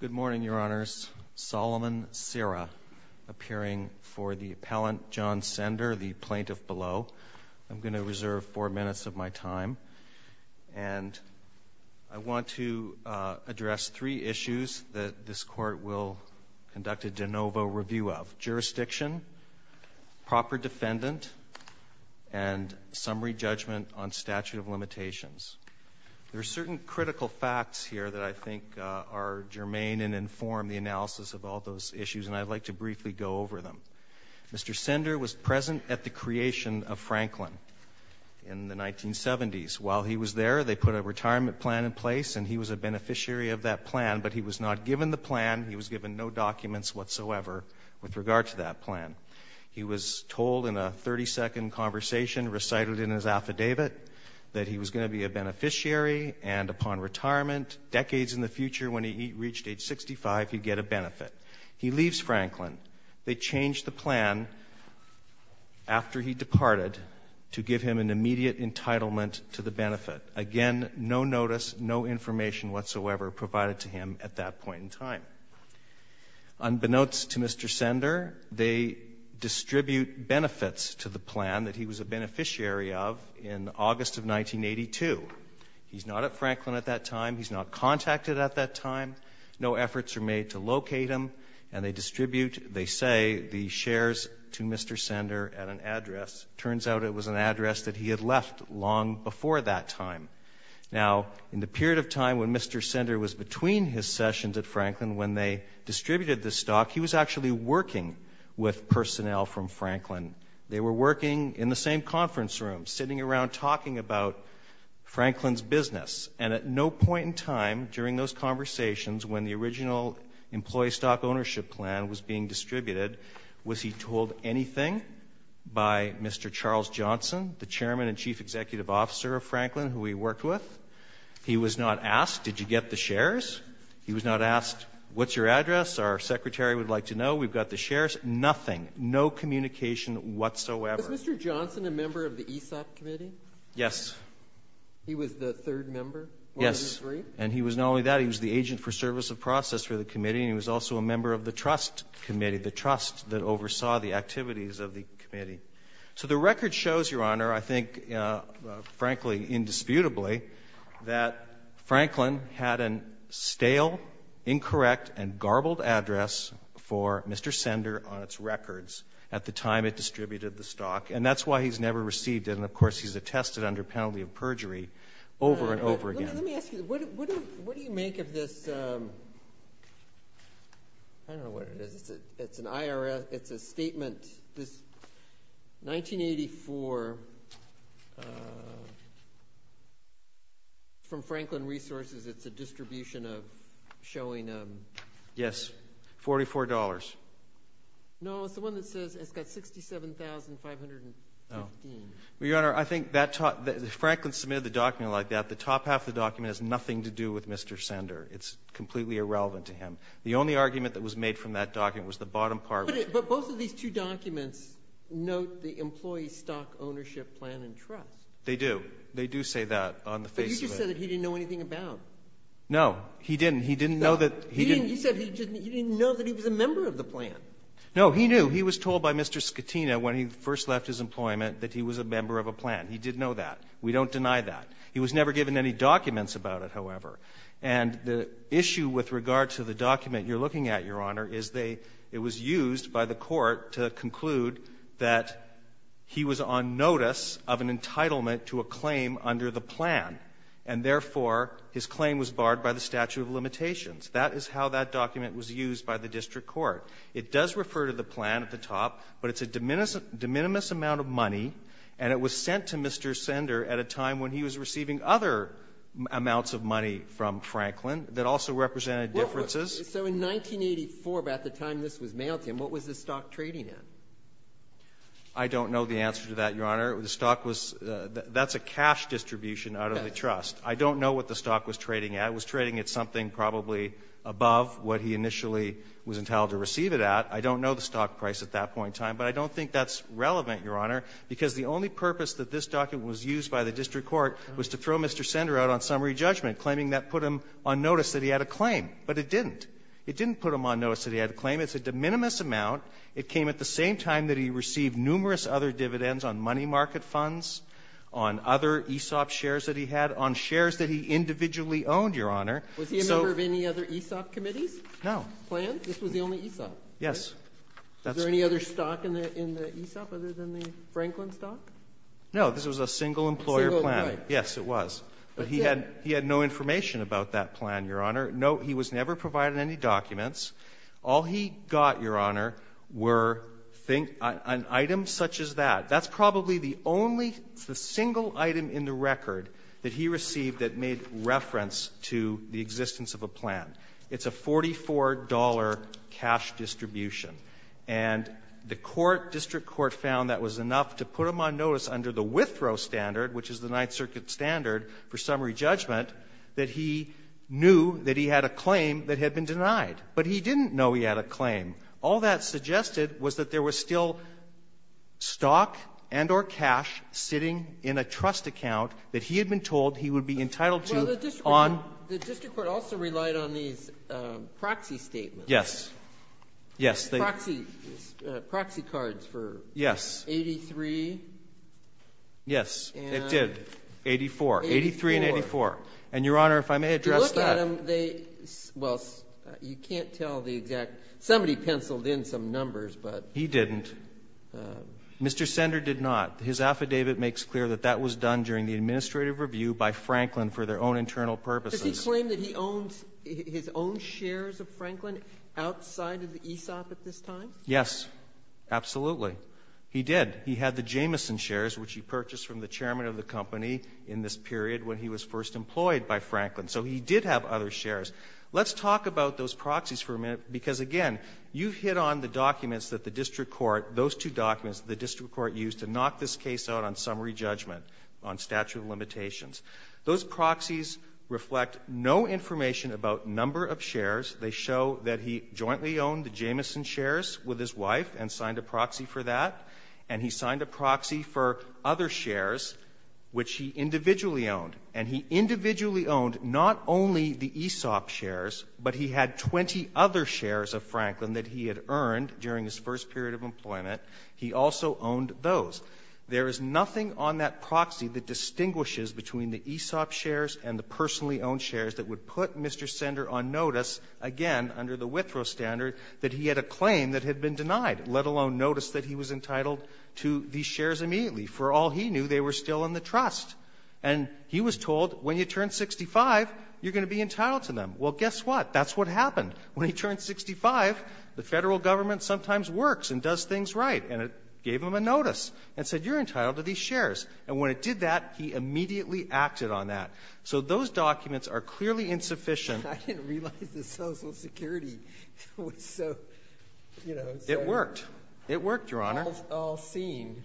Good morning, Your Honors. Solomon Serra, appearing for the appellant John Sender, the plaintiff below. I'm going to reserve four minutes of my time, and I want to address three issues that this Court will conduct a de novo review of. Jurisdiction, proper defendant, and summary judgment on statute of limitations. There are certain critical facts here that I think are germane and inform the analysis of all those issues, and I'd like to briefly go over them. Mr. Sender was present at the creation of Franklin in the 1970s. While he was there, they put a retirement plan in place, and he was a beneficiary of that plan, but he was not given the plan. He was told in a 30-second conversation recited in his affidavit that he was going to be a beneficiary, and upon retirement, decades in the future, when he reached age 65, he'd get a benefit. He leaves Franklin. They changed the plan after he departed to give him an immediate entitlement to the benefit. Again, no notice, no information whatsoever provided to him at that point in time. Unbeknownst to Mr. Sender, they distribute benefits to the plan that he was a beneficiary of in August of 1982. He's not at Franklin at that time. He's not contacted at that time. No efforts are made to locate him, and they distribute, they say, the shares to Mr. Sender at an address. It turns out it was an address that he had left long before that time. Now, in the period of time when Mr. Sender was between his sessions at Franklin when they distributed the stock, he was actually working with personnel from Franklin. They were working in the same conference room, sitting around talking about Franklin's business, and at no point in time during those conversations when the original employee stock ownership plan was being distributed, was he told anything by Mr. Charles Johnson, the chairman and chief executive officer of Franklin, who he worked with? He was not asked, did you get the shares? He was not asked, what's your address? Our secretary would like to know. We've got the shares. Nothing. No communication whatsoever. Was Mr. Johnson a member of the ESOP committee? Yes. He was the third member? Yes. One of the three? And he was not only that. He was the agent for service of process for the committee, and he was also a member of the trust committee, the trust that oversaw the activities of the committee. So the record shows, Your Honor, I think frankly, indisputably, that Franklin had a stale, incorrect and garbled address for Mr. Sender on its records at the time it distributed the stock, and that's why he's never received it, and of course he's attested under penalty of perjury over and over again. Let me ask you, what do you make of this, I don't know what it is, it's an IRS, it's a statement, this 1984, from Franklin Resources, it's a distribution of, showing a... Yes. $44. No, it's the one that says it's got $67,515. Your Honor, I think Franklin submitted the document like that, the top half of the document has nothing to do with Mr. Sender. It's completely irrelevant to him. The only argument that was made from that document was the bottom part. But both of these two documents note the employee stock ownership plan and trust. They do. They do say that on the face of it. But you just said that he didn't know anything about it. No, he didn't. He didn't know that... You said he didn't know that he was a member of the plan. No, he knew. He was told by Mr. Scatina when he first left his employment that he was a member of a plan. He did know that. We don't deny that. He was never given any documents about it, however, and the issue with regard to the by the court to conclude that he was on notice of an entitlement to a claim under the plan. And therefore, his claim was barred by the statute of limitations. That is how that document was used by the district court. It does refer to the plan at the top, but it's a de minimis amount of money, and it was sent to Mr. Sender at a time when he was receiving other amounts of money from Franklin that also represented differences. So in 1984, about the time this was mailed to him, what was this stock trading at? I don't know the answer to that, Your Honor. That's a cash distribution out of the trust. I don't know what the stock was trading at. It was trading at something probably above what he initially was entitled to receive it at. I don't know the stock price at that point in time, but I don't think that's relevant, Your Honor, because the only purpose that this document was used by the district court was to throw Mr. Sender out on summary judgment, claiming that put him on notice that he had a claim. But it didn't. It didn't put him on notice that he had a claim. It's a de minimis amount. It came at the same time that he received numerous other dividends on money market funds, on other ESOP shares that he had, on shares that he individually owned, Your Honor. Was he a member of any other ESOP committees? No. Plans? This was the only ESOP? Yes. Was there any other stock in the ESOP other than the Franklin stock? No. This was a single employer plan. Single, right. Yes, it was. But he had no information about that plan, Your Honor. No, he was never provided any documents. All he got, Your Honor, were items such as that. That's probably the only single item in the record that he received that made reference to the existence of a plan. It's a $44 cash distribution. And the court, district court, found that was enough to put him on notice under the that he had a claim that had been denied. But he didn't know he had a claim. All that suggested was that there was still stock and or cash sitting in a trust account that he had been told he would be entitled to on. The district court also relied on these proxy statements. Yes. Yes. Proxy, proxy cards for 83. Yes, it did, 84, 83 and 84. And Your Honor, if I may address that. Adam, they, well, you can't tell the exact, somebody penciled in some numbers, but. He didn't. Mr. Sender did not. His affidavit makes clear that that was done during the administrative review by Franklin for their own internal purposes. Does he claim that he owned, his own shares of Franklin outside of the ESOP at this time? Yes, absolutely. He did. He had the Jameson shares, which he purchased from the chairman of the company in this period when he was first employed by Franklin. So he did have other shares. Let's talk about those proxies for a minute because, again, you've hit on the documents that the district court, those two documents the district court used to knock this case out on summary judgment on statute of limitations. Those proxies reflect no information about number of shares. They show that he jointly owned the Jameson shares with his wife and signed a proxy for that. And he signed a proxy for other shares, which he individually owned. And he individually owned not only the ESOP shares, but he had 20 other shares of Franklin that he had earned during his first period of employment. He also owned those. There is nothing on that proxy that distinguishes between the ESOP shares and the personally owned shares that would put Mr. Sender on notice, again, under the Withrow standard, that he had a claim that had been denied, let alone notice that he was entitled to these shares immediately. For all he knew, they were still in the trust. And he was told, when you turn 65, you're going to be entitled to them. Well, guess what? That's what happened. When he turned 65, the federal government sometimes works and does things right. And it gave him a notice and said, you're entitled to these shares. And when it did that, he immediately acted on that. So those documents are clearly insufficient. I didn't realize the Social Security was so, you know. It worked. It worked, Your Honor. All seen.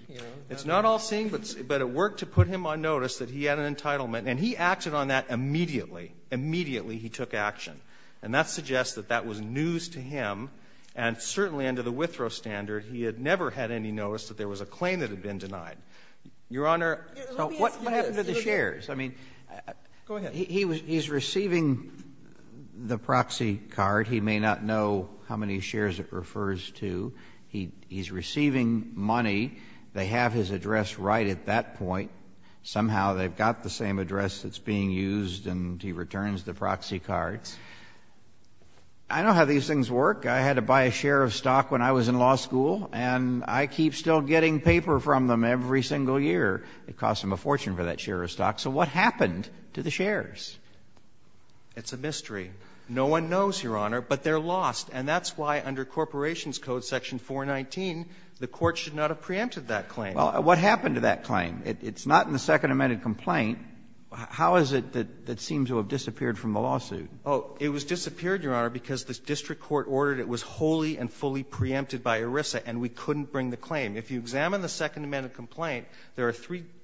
It's not all seen, but it worked to put him on notice that he had an entitlement. And he acted on that immediately. Immediately, he took action. And that suggests that that was news to him. And certainly under the Withrow standard, he had never had any notice that there was a claim that had been denied. Your Honor, what happened to the shares? I mean, go ahead. He's receiving the proxy card. He may not know how many shares it refers to. He's receiving money. They have his address right at that point. Somehow they've got the same address that's being used, and he returns the proxy card. I know how these things work. I had to buy a share of stock when I was in law school, and I keep still getting paper from them every single year. It cost him a fortune for that share of stock. So what happened to the shares? It's a mystery. No one knows, Your Honor. But they're lost. And that's why under Corporations Code Section 419, the court should not have preempted that claim. Well, what happened to that claim? It's not in the Second Amended Complaint. How is it that it seems to have disappeared from the lawsuit? It was disappeared, Your Honor, because the district court ordered it was wholly and fully preempted by ERISA, and we couldn't bring the claim. If you examine the Second Amended Complaint, there are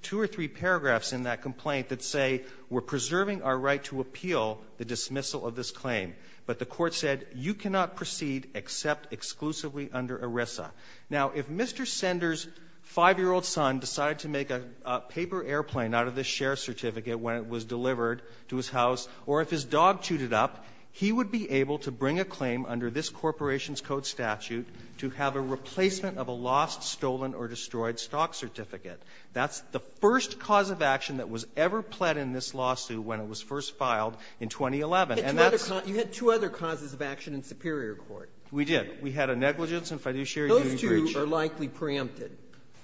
two or three paragraphs in that complaint that say, we're preserving our right to appeal the dismissal of this claim. But the court said, you cannot proceed except exclusively under ERISA. Now, if Mr. Sender's 5-year-old son decided to make a paper airplane out of this share certificate when it was delivered to his house, or if his dog chewed it up, he would be able to bring a claim under this Corporations Code statute to have a replacement of a lost, stolen, or destroyed stock certificate. That's the first cause of action that was ever pled in this lawsuit when it was first filed in 2011. And that's – You had two other causes of action in Superior Court. We did. We had a negligence and fiduciary duty breach. Those two are likely preempted.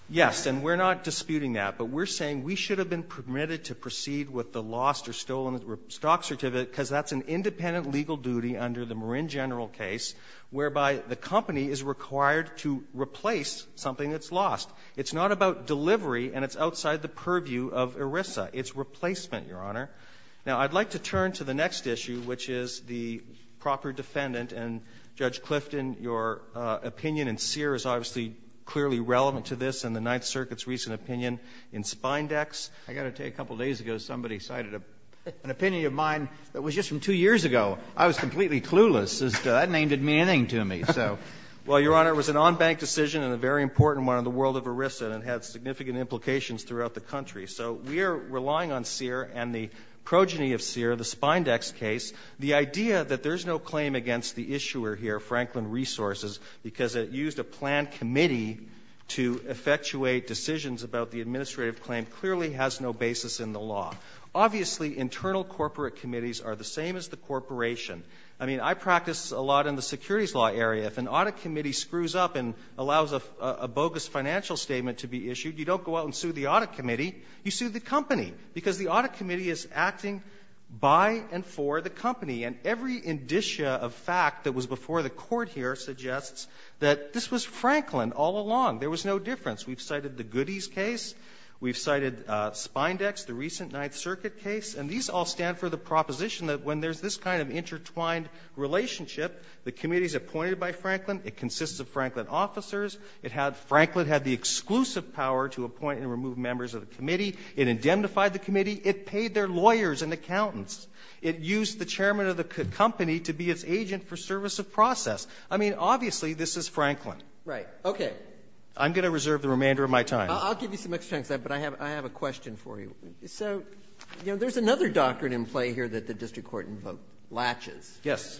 Yes, and we're not disputing that, but we're saying we should have been permitted to proceed with the lost or stolen stock certificate because that's an independent legal duty under the Marin General case, whereby the company is required to replace something that's lost. It's not about delivery, and it's outside the purview of ERISA. It's replacement, Your Honor. Now, I'd like to turn to the next issue, which is the proper defendant. And, Judge Clifton, your opinion in Sear is obviously clearly relevant to this and the Ninth Circuit's recent opinion in Spindex. I've got to tell you, a couple of days ago, somebody cited an opinion of mine that was just from two years ago. I was completely clueless. That name didn't mean anything to me. Well, Your Honor, it was an on-bank decision and a very important one in the world of ERISA, and it had significant implications throughout the country. So we are relying on Sear and the progeny of Sear, the Spindex case. The idea that there's no claim against the issuer here, Franklin Resources, because it used a planned committee to effectuate decisions about the administrative claim, clearly has no basis in the law. Obviously, internal corporate committees are the same as the corporation. I mean, I practice a lot in the securities law area. If an audit committee screws up and allows a bogus financial statement to be issued, you don't go out and sue the audit committee. You sue the company, because the audit committee is acting by and for the company. And every indicia of fact that was before the court here suggests that this was Franklin all along. There was no difference. We've cited the Goody's case. We've cited Spindex, the recent Ninth Circuit case. And these all stand for the proposition that when there's this kind of intertwined relationship, the committee is appointed by Franklin. It consists of Franklin officers. It had the exclusive power to appoint and remove members of the committee. It indemnified the committee. It paid their lawyers and accountants. It used the chairman of the company to be its agent for service of process. I mean, obviously, this is Franklin. Right. Okay. I'm going to reserve the remainder of my time. I'll give you some extra time, but I have a question for you. So, you know, there's another doctrine in play here that the district court invoked, latches. Yes.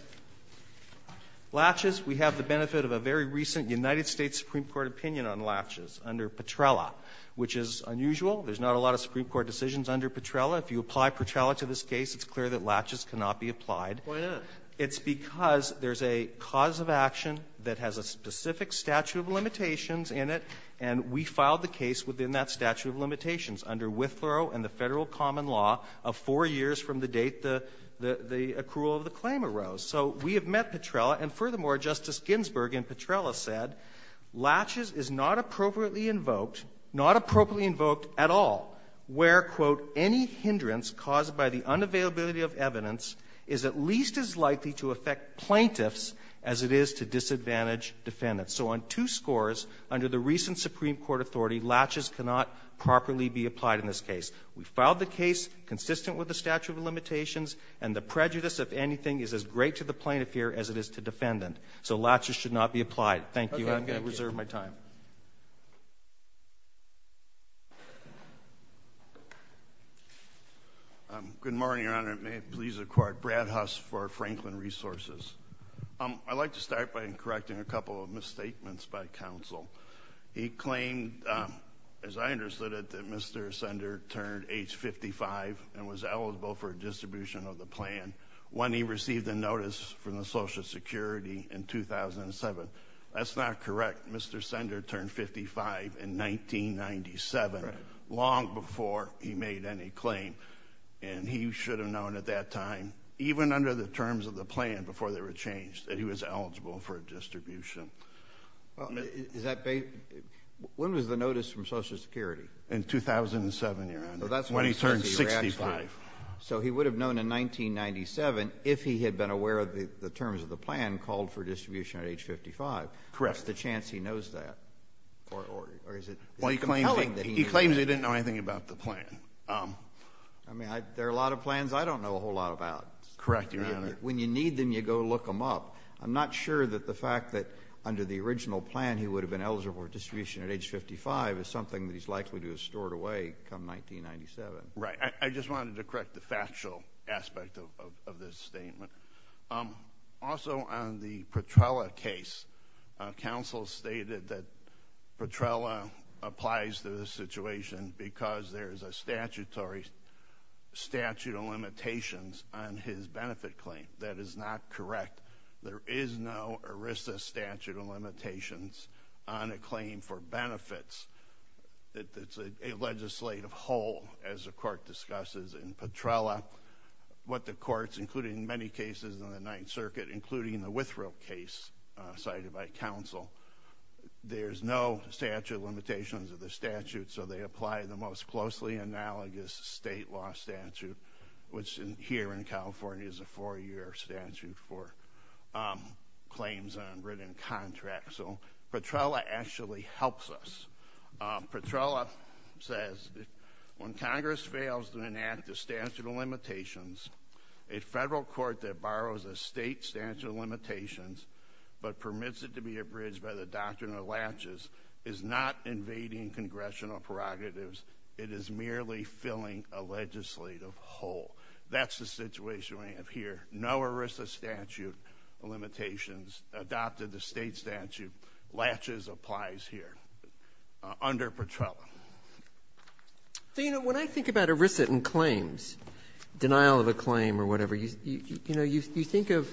Latches. We have the benefit of a very recent United States Supreme Court opinion on latches under Petrella, which is unusual. There's not a lot of Supreme Court decisions under Petrella. If you apply Petrella to this case, it's clear that latches cannot be applied. Why not? It's because there's a cause of action that has a specific statute of limitations in it, and we filed the case within that statute of limitations under Withrow and the federal common law of four years from the date the accrual of the claim arose. So we have met Petrella, and furthermore, Justice Ginsburg in Petrella said, latches is not appropriately invoked, not appropriately invoked at all, where, quote, any hindrance caused by the unavailability of evidence is at least as likely to affect plaintiffs as it is to disadvantage defendants. So on two scores under the recent Supreme Court authority, latches cannot properly be applied in this case. We filed the case consistent with the statute of limitations, and the prejudice, if anything, is as great to the plaintiff here as it is to defendant. So latches should not be applied. Thank you. I'm going to reserve my time. Good morning, Your Honor. May it please the Court. Brad Huss for Franklin Resources. I'd like to start by correcting a couple of misstatements by counsel. He claimed, as I understood it, that Mr. Sender turned age 55 and was eligible for a distribution of the plan when he received a notice from the Social Security in 2007. That's not correct. Mr. Sender turned 55 in 1997, long before he made any claim, and he should have known at that time, even under the terms of the plan before they were changed, that he was eligible for a distribution. When was the notice from Social Security? In 2007, Your Honor, when he turned 65. So he would have known in 1997, if he had been aware of the terms of the plan, called for a distribution at age 55. Correct. What's the chance he knows that? Or is it compelling that he knew? He claims he didn't know anything about the plan. I mean, there are a lot of plans I don't know a whole lot about. Correct, Your Honor. When you need them, you go look them up. I'm not sure that the fact that under the original plan, he would have been eligible for a distribution at age 55 is something that he's likely to have stored away come 1997. Right. I just wanted to correct the factual aspect of this statement. Also on the Petrella case, counsel stated that Petrella applies to this situation because there is a statutory statute of limitations on his benefit claim. That is not correct. There is no ERISA statute of limitations on a claim for benefits. It's a legislative whole, as the court discusses in Petrella. What the courts, including many cases in the Ninth Circuit, including the Withrow case cited by counsel, there's no statute of limitations of the statute, so they apply the most closely analogous state law statute, which here in California is a four-year statute for claims on written contracts. So Petrella actually helps us. Petrella says, when Congress fails to enact the statute of limitations, a federal court that borrows a state statute of limitations but permits it to be abridged by the doctrine of latches is not invading congressional prerogatives. It is merely filling a legislative hole. That's the situation we have here. No ERISA statute of limitations adopted the state statute, latches applies here under Petrella. So, you know, when I think about ERISA in claims, denial of a claim or whatever, you think of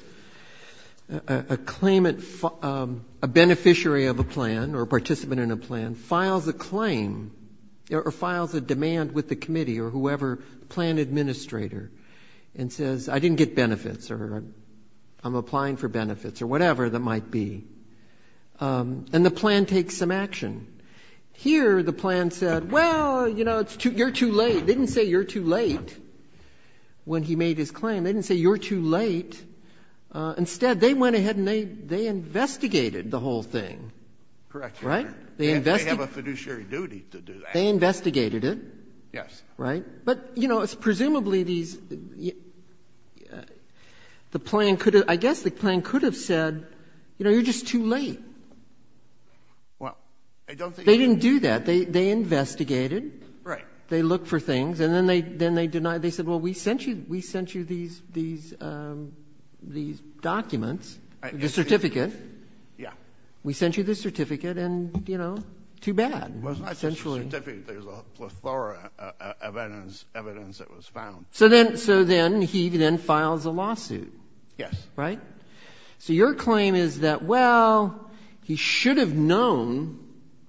a claimant, a beneficiary of a plan or a participant in a plan files a claim or whoever, plan administrator, and says, I didn't get benefits or I'm applying for benefits or whatever that might be. And the plan takes some action. Here the plan said, well, you know, it's too, you're too late. They didn't say you're too late when he made his claim. They didn't say you're too late. Instead, they went ahead and they, they investigated the whole thing. Correct. Right? They investigated. They have a fiduciary duty to do that. They investigated it. Yes. Right. But, you know, it's presumably these, the plan could have, I guess the plan could have said, you know, you're just too late. Well, I don't think. They didn't do that. They investigated. Right. They looked for things and then they, then they denied, they said, well, we sent you, we sent you these, these, these documents, the certificate. Yeah. We sent you the certificate and, you know, too bad. It was not just a certificate. There's a plethora of evidence, evidence that was found. So then, so then he then files a lawsuit. Yes. Right? So your claim is that, well, he should have known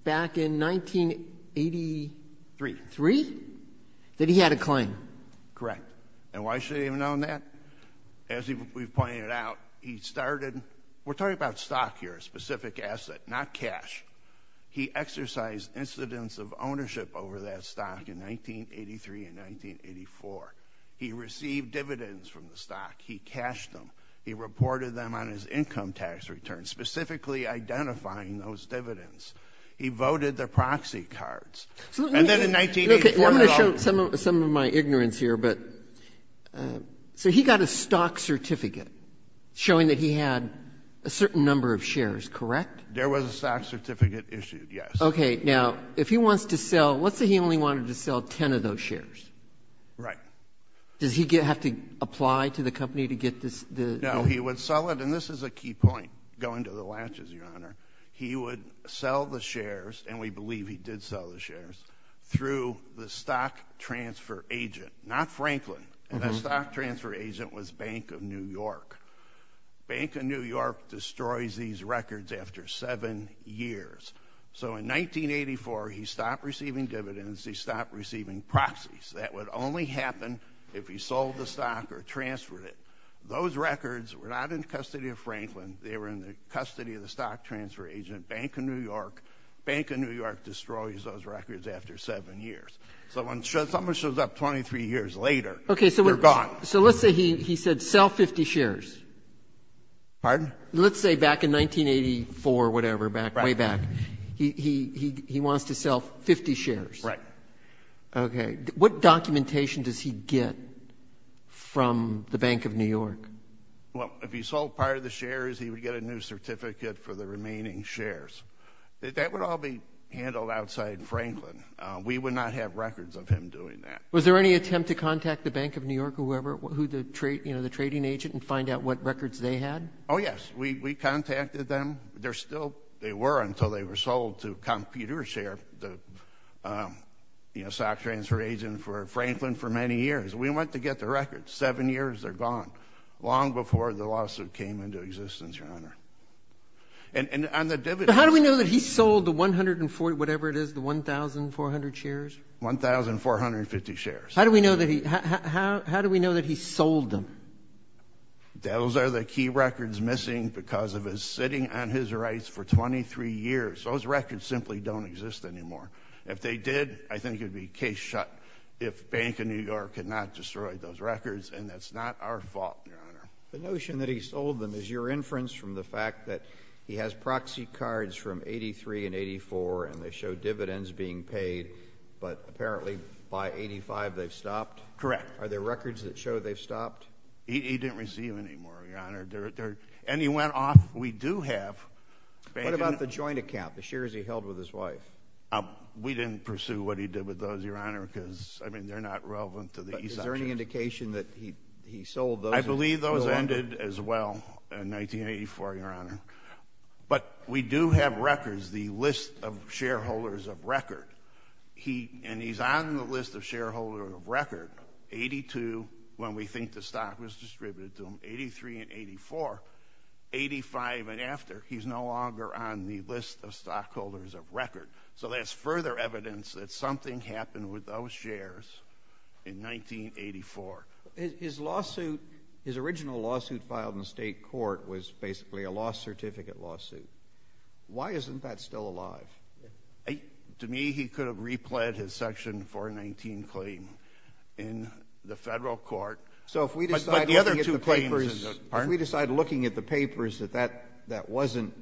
back in 1983, three, that he had a claim. Correct. And why should he have known that? As we've pointed out, he started, we're talking about stock here, a specific asset, not cash. He exercised incidents of ownership over that stock in 1983 and 1984. He received dividends from the stock. He cashed them. He reported them on his income tax return, specifically identifying those dividends. He voted the proxy cards. And then in 1984. I'm going to show some of, some of my ignorance here, but, so he got a stock certificate showing that he had a certain number of shares, correct? Correct. There was a stock certificate issued. Yes. Okay. Now, if he wants to sell, let's say he only wanted to sell 10 of those shares. Right. Does he get, have to apply to the company to get this? No. He would sell it. And this is a key point, going to the latches, Your Honor. He would sell the shares, and we believe he did sell the shares, through the stock transfer agent. Not Franklin. And that stock transfer agent was Bank of New York. Bank of New York destroys these records after seven years. So in 1984, he stopped receiving dividends. He stopped receiving proxies. That would only happen if he sold the stock or transferred it. Those records were not in custody of Franklin. They were in the custody of the stock transfer agent, Bank of New York. Bank of New York destroys those records after seven years. So when someone shows up 23 years later, they're gone. So let's say he said, sell 50 shares. Pardon? Let's say back in 1984 or whatever, way back, he wants to sell 50 shares. Right. Okay. What documentation does he get from the Bank of New York? Well, if he sold part of the shares, he would get a new certificate for the remaining shares. That would all be handled outside Franklin. We would not have records of him doing that. Was there any attempt to contact the Bank of New York or whoever, you know, the trading agent, and find out what records they had? Oh, yes. We contacted them. They're still—they were until they were sold to Computer Share, the, you know, stock transfer agent for Franklin for many years. We went to get the records. Seven years, they're gone. Long before the lawsuit came into existence, Your Honor. And on the dividends— How do we know that he sold the 140, whatever it is, the 1,400 shares? 1,450 shares. How do we know that he—how do we know that he sold them? Those are the key records missing because of his sitting on his rights for 23 years. Those records simply don't exist anymore. If they did, I think it would be case shut if Bank of New York could not destroy those records, and that's not our fault, Your Honor. The notion that he sold them is your inference from the fact that he has proxy cards from 83 and 84, and they show dividends being paid, but apparently by 85, they've stopped? Correct. Are there records that show they've stopped? He didn't receive any more, Your Honor. And he went off—we do have— What about the joint account, the shares he held with his wife? We didn't pursue what he did with those, Your Honor, because, I mean, they're not relevant to the— Is there any indication that he sold those— I believe those ended as well in 1984, Your Honor. But we do have records, the list of shareholders of record, and he's on the list of shareholders of record, 82 when we think the stock was distributed to him, 83 and 84, 85 and after, he's no longer on the list of stockholders of record. So that's further evidence that something happened with those shares in 1984. His lawsuit—his original lawsuit filed in the state court was basically a lost certificate lawsuit. Why isn't that still alive? To me, he could have replayed his Section 419 claim in the federal court. So if we decide looking at the papers— But the other two claims— Pardon? If we decide looking at the papers that that wasn't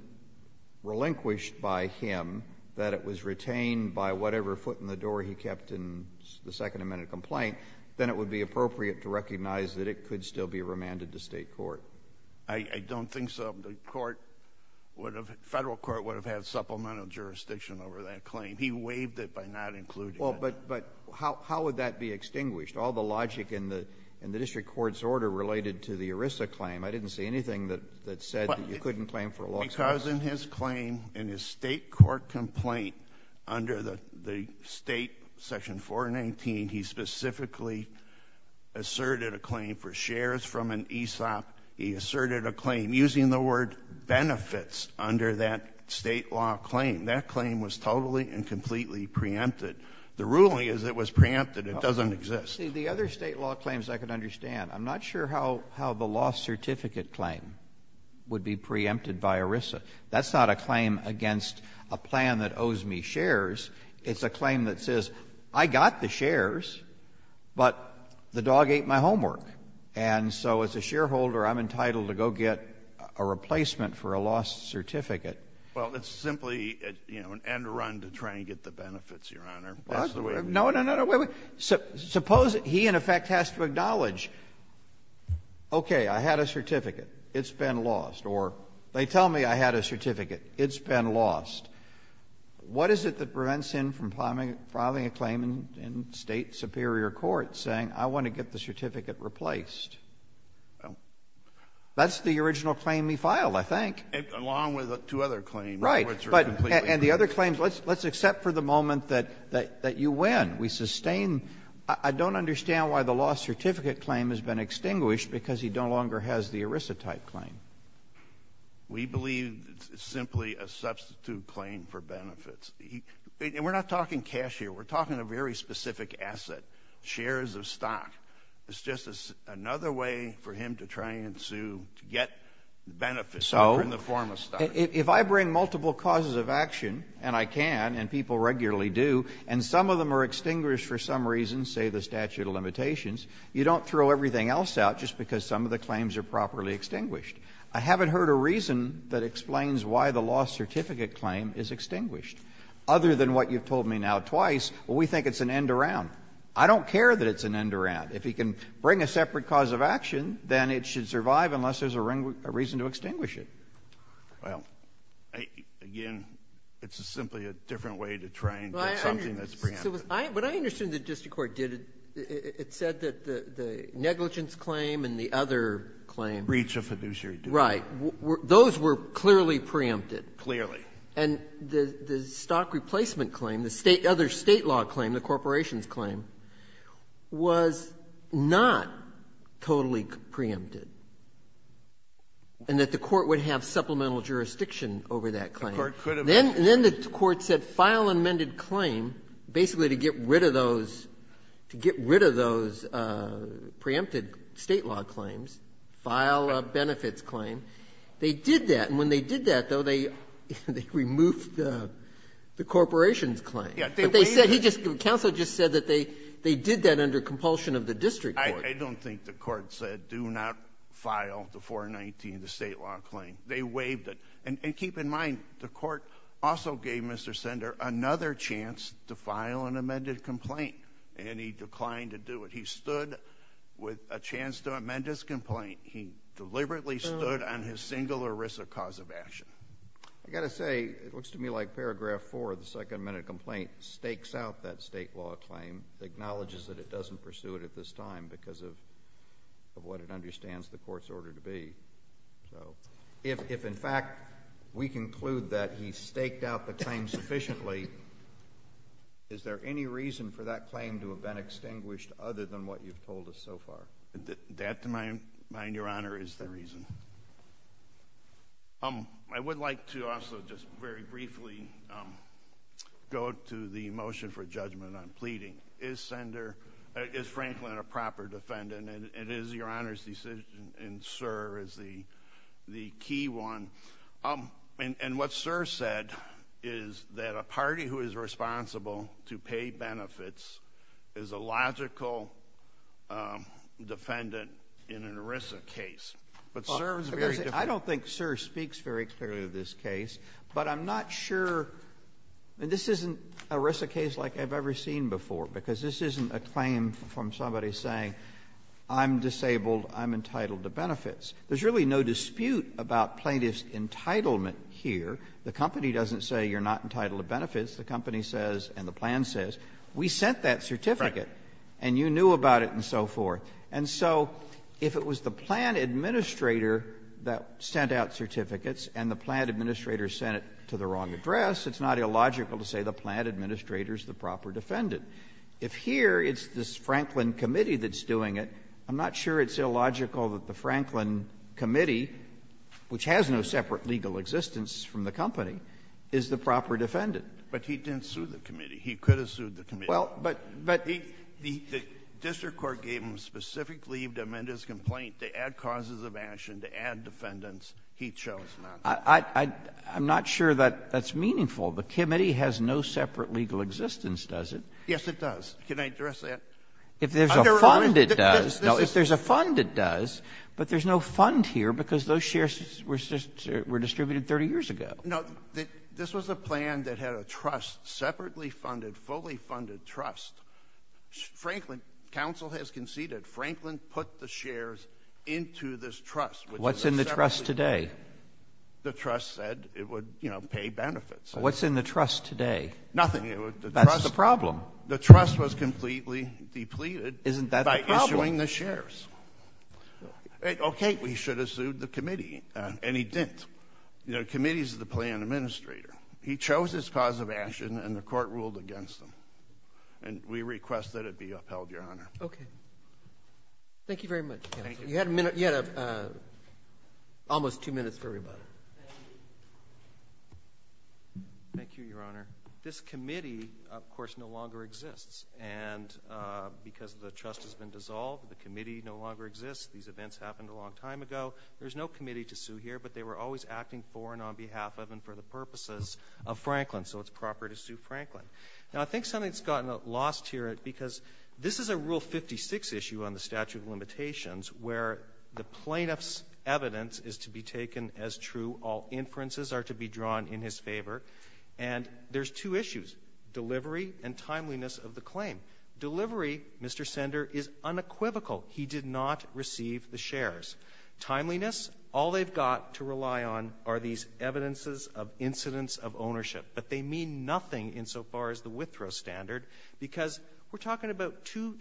relinquished by him, that it was retained by whatever foot in the door he kept in the Second Amendment complaint, then it would be appropriate to recognize that it could still be remanded to state court. I don't think so. The court would have—federal court would have had supplemental jurisdiction over that claim. He waived it by not including it. Well, but how would that be extinguished? All the logic in the district court's order related to the ERISA claim. I didn't see anything that said that you couldn't claim for a lost certificate. Because in his claim, in his state court complaint under the state Section 419, he specifically asserted a claim for shares from an ESOP. He asserted a claim using the word benefits under that state law claim. That claim was totally and completely preempted. The ruling is it was preempted. It doesn't exist. See, the other state law claims I could understand. I'm not sure how the lost certificate claim would be preempted by ERISA. That's not a claim against a plan that owes me shares. It's a claim that says I got the shares, but the dog ate my homework. And so as a shareholder, I'm entitled to go get a replacement for a lost certificate. Well, it's simply, you know, an end run to try and get the benefits, Your Honor. That's the way— What? No, no, no. Suppose he, in effect, has to acknowledge, okay, I had a certificate, it's been lost, or they tell me I had a certificate, it's been lost. What is it that prevents him from filing a claim in state superior court saying I want to get the certificate replaced? That's the original claim he filed, I think. Along with two other claims, which are completely preempted. Right. And the other claims, let's accept for the moment that you win. We sustain—I don't understand why the lost certificate claim has been extinguished because he no longer has the ERISA type claim. We believe it's simply a substitute claim for benefits. We're not talking cash here. We're talking a very specific asset. Shares of stock. It's just another way for him to try and sue to get benefits in the form of stock. If I bring multiple causes of action, and I can, and people regularly do, and some of them are extinguished for some reason, say the statute of limitations, you don't throw everything else out just because some of the claims are properly extinguished. I haven't heard a reason that explains why the lost certificate claim is extinguished. Other than what you've told me now twice, we think it's an end around. I don't care that it's an end around. If he can bring a separate cause of action, then it should survive unless there's a reason to extinguish it. Well, again, it's simply a different way to try and get something that's preempted. What I understood the district court did, it said that the negligence claim and the other claims. Breach of fiduciary duty. Right. Those were clearly preempted. Clearly. And the stock replacement claim, the other state law claim, the corporations claim, was not totally preempted. And that the court would have supplemental jurisdiction over that claim. The court could have. And then the court said, file amended claim, basically to get rid of those preempted state law claims. File benefits claim. They did that. And when they did that, though, they removed the corporations claim. But they said, the counsel just said that they did that under compulsion of the district court. I don't think the court said, do not file the 419, the state law claim. They waived it. And keep in mind, the court also gave Mr. Sender another chance to file an amended complaint. And he declined to do it. He stood with a chance to amend his complaint. He deliberately stood on his singular risk of cause of action. I've got to say, it looks to me like paragraph four of the second amended complaint stakes out that state law claim, acknowledges that it doesn't pursue it at this time because of what it understands the court's order to be. So if, in fact, we conclude that he staked out the claim sufficiently, is there any reason for that claim to have been extinguished other than what you've told us so far? That, to my mind, Your Honor, is the reason. I would like to also just very briefly go to the motion for judgment on pleading. Is Franklin a proper defendant? And is Your Honor's decision in SIR the key one? And what SIR said is that a party who is responsible to pay benefits is a logical defendant in an ERISA case. But SIR is very different. I don't think SIR speaks very clearly of this case. But I'm not sure, and this isn't an ERISA case like I've ever seen before because this isn't a claim from somebody saying, I'm disabled, I'm entitled to benefits. There's really no dispute about plaintiff's entitlement here. The company doesn't say you're not entitled to benefits. The company says, and the plan says, we sent that certificate and you knew about it and so forth. And so if it was the plan administrator that sent out certificates and the plan administrator sent it to the wrong address, it's not illogical to say the plan administrator is the proper defendant. If here it's this Franklin committee that's doing it, I'm not sure it's illogical that the Franklin committee, which has no separate legal existence from the company, is the proper defendant. But he didn't sue the committee. He could have sued the committee. Well, but— The district court gave him a specific leave to amend his complaint to add causes of action to add defendants. He chose not to. I'm not sure that that's meaningful. The committee has no separate legal existence, does it? Yes, it does. Can I address that? If there's a fund, it does. No, if there's a fund, it does. But there's no fund here because those shares were distributed 30 years ago. No, this was a plan that had a trust, separately funded, fully funded trust. Franklin, counsel has conceded, Franklin put the shares into this trust, which is a separate trust. What's in the trust today? The trust said it would, you know, pay benefits. What's in the trust today? Nothing. It was the trust— That's the problem. The trust was completely depleted— Isn't that the problem? —by issuing the shares. Okay. Well, he should have sued the committee, and he didn't. You know, the committee is the plan administrator. He chose his cause of action, and the court ruled against him. And we request that it be upheld, Your Honor. Okay. Thank you very much, counsel. Thank you. We had a minute—you had almost two minutes for everybody. Thank you, Your Honor. This committee, of course, no longer exists. And because the trust has been dissolved, the committee no longer exists. These events happened a long time ago. There's no committee to sue here, but they were always acting for and on behalf of and for the purposes of Franklin, so it's proper to sue Franklin. Now, I think something's gotten lost here because this is a Rule 56 issue on the statute of limitations, where the plaintiff's evidence is to be taken as true. All inferences are to be drawn in his favor. And there's two issues—delivery and timeliness of the claim. Delivery, Mr. Sender, is unequivocal. He did not receive the shares. Timeliness, all they've got to rely on are these evidences of incidents of ownership. But they mean nothing insofar as the withdrawal standard, because we're talking about two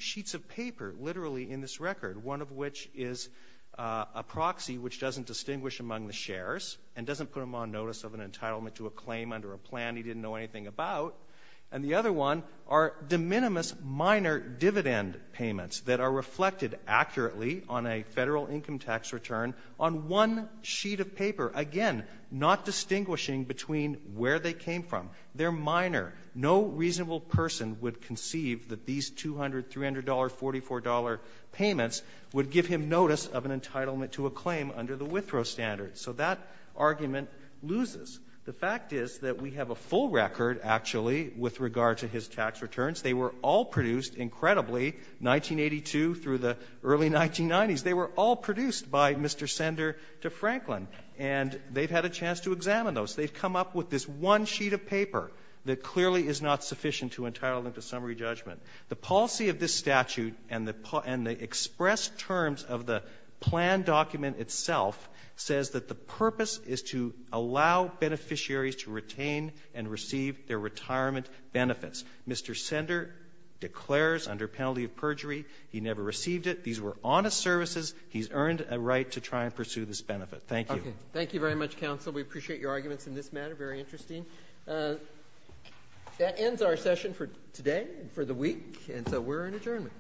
is a proxy which doesn't distinguish among the shares and doesn't put him on notice of an entitlement to a claim under a plan he didn't know anything about. And the other one are de minimis minor dividend payments that are reflected accurately on a federal income tax return on one sheet of paper, again, not distinguishing between where they came from. They're minor. No reasonable person would conceive that these $200, $300, $44 payments would give him notice of an entitlement to a claim under the withdrawal standard. So that argument loses. The fact is that we have a full record, actually, with regard to his tax returns. They were all produced, incredibly, 1982 through the early 1990s. They were all produced by Mr. Sender to Franklin. And they've had a chance to examine those. They've come up with this one sheet of paper that clearly is not sufficient to entitle them to summary judgment. The policy of this statute and the expressed terms of the plan document itself says that the purpose is to allow beneficiaries to retain and receive their retirement benefits. Mr. Sender declares under penalty of perjury he never received it. These were honest services. He's earned a right to try and pursue this benefit. Thank you. Okay. Thank you very much, counsel. We appreciate your arguments in this matter. Very interesting. That ends our session for today, for the week, and so we're in adjournment.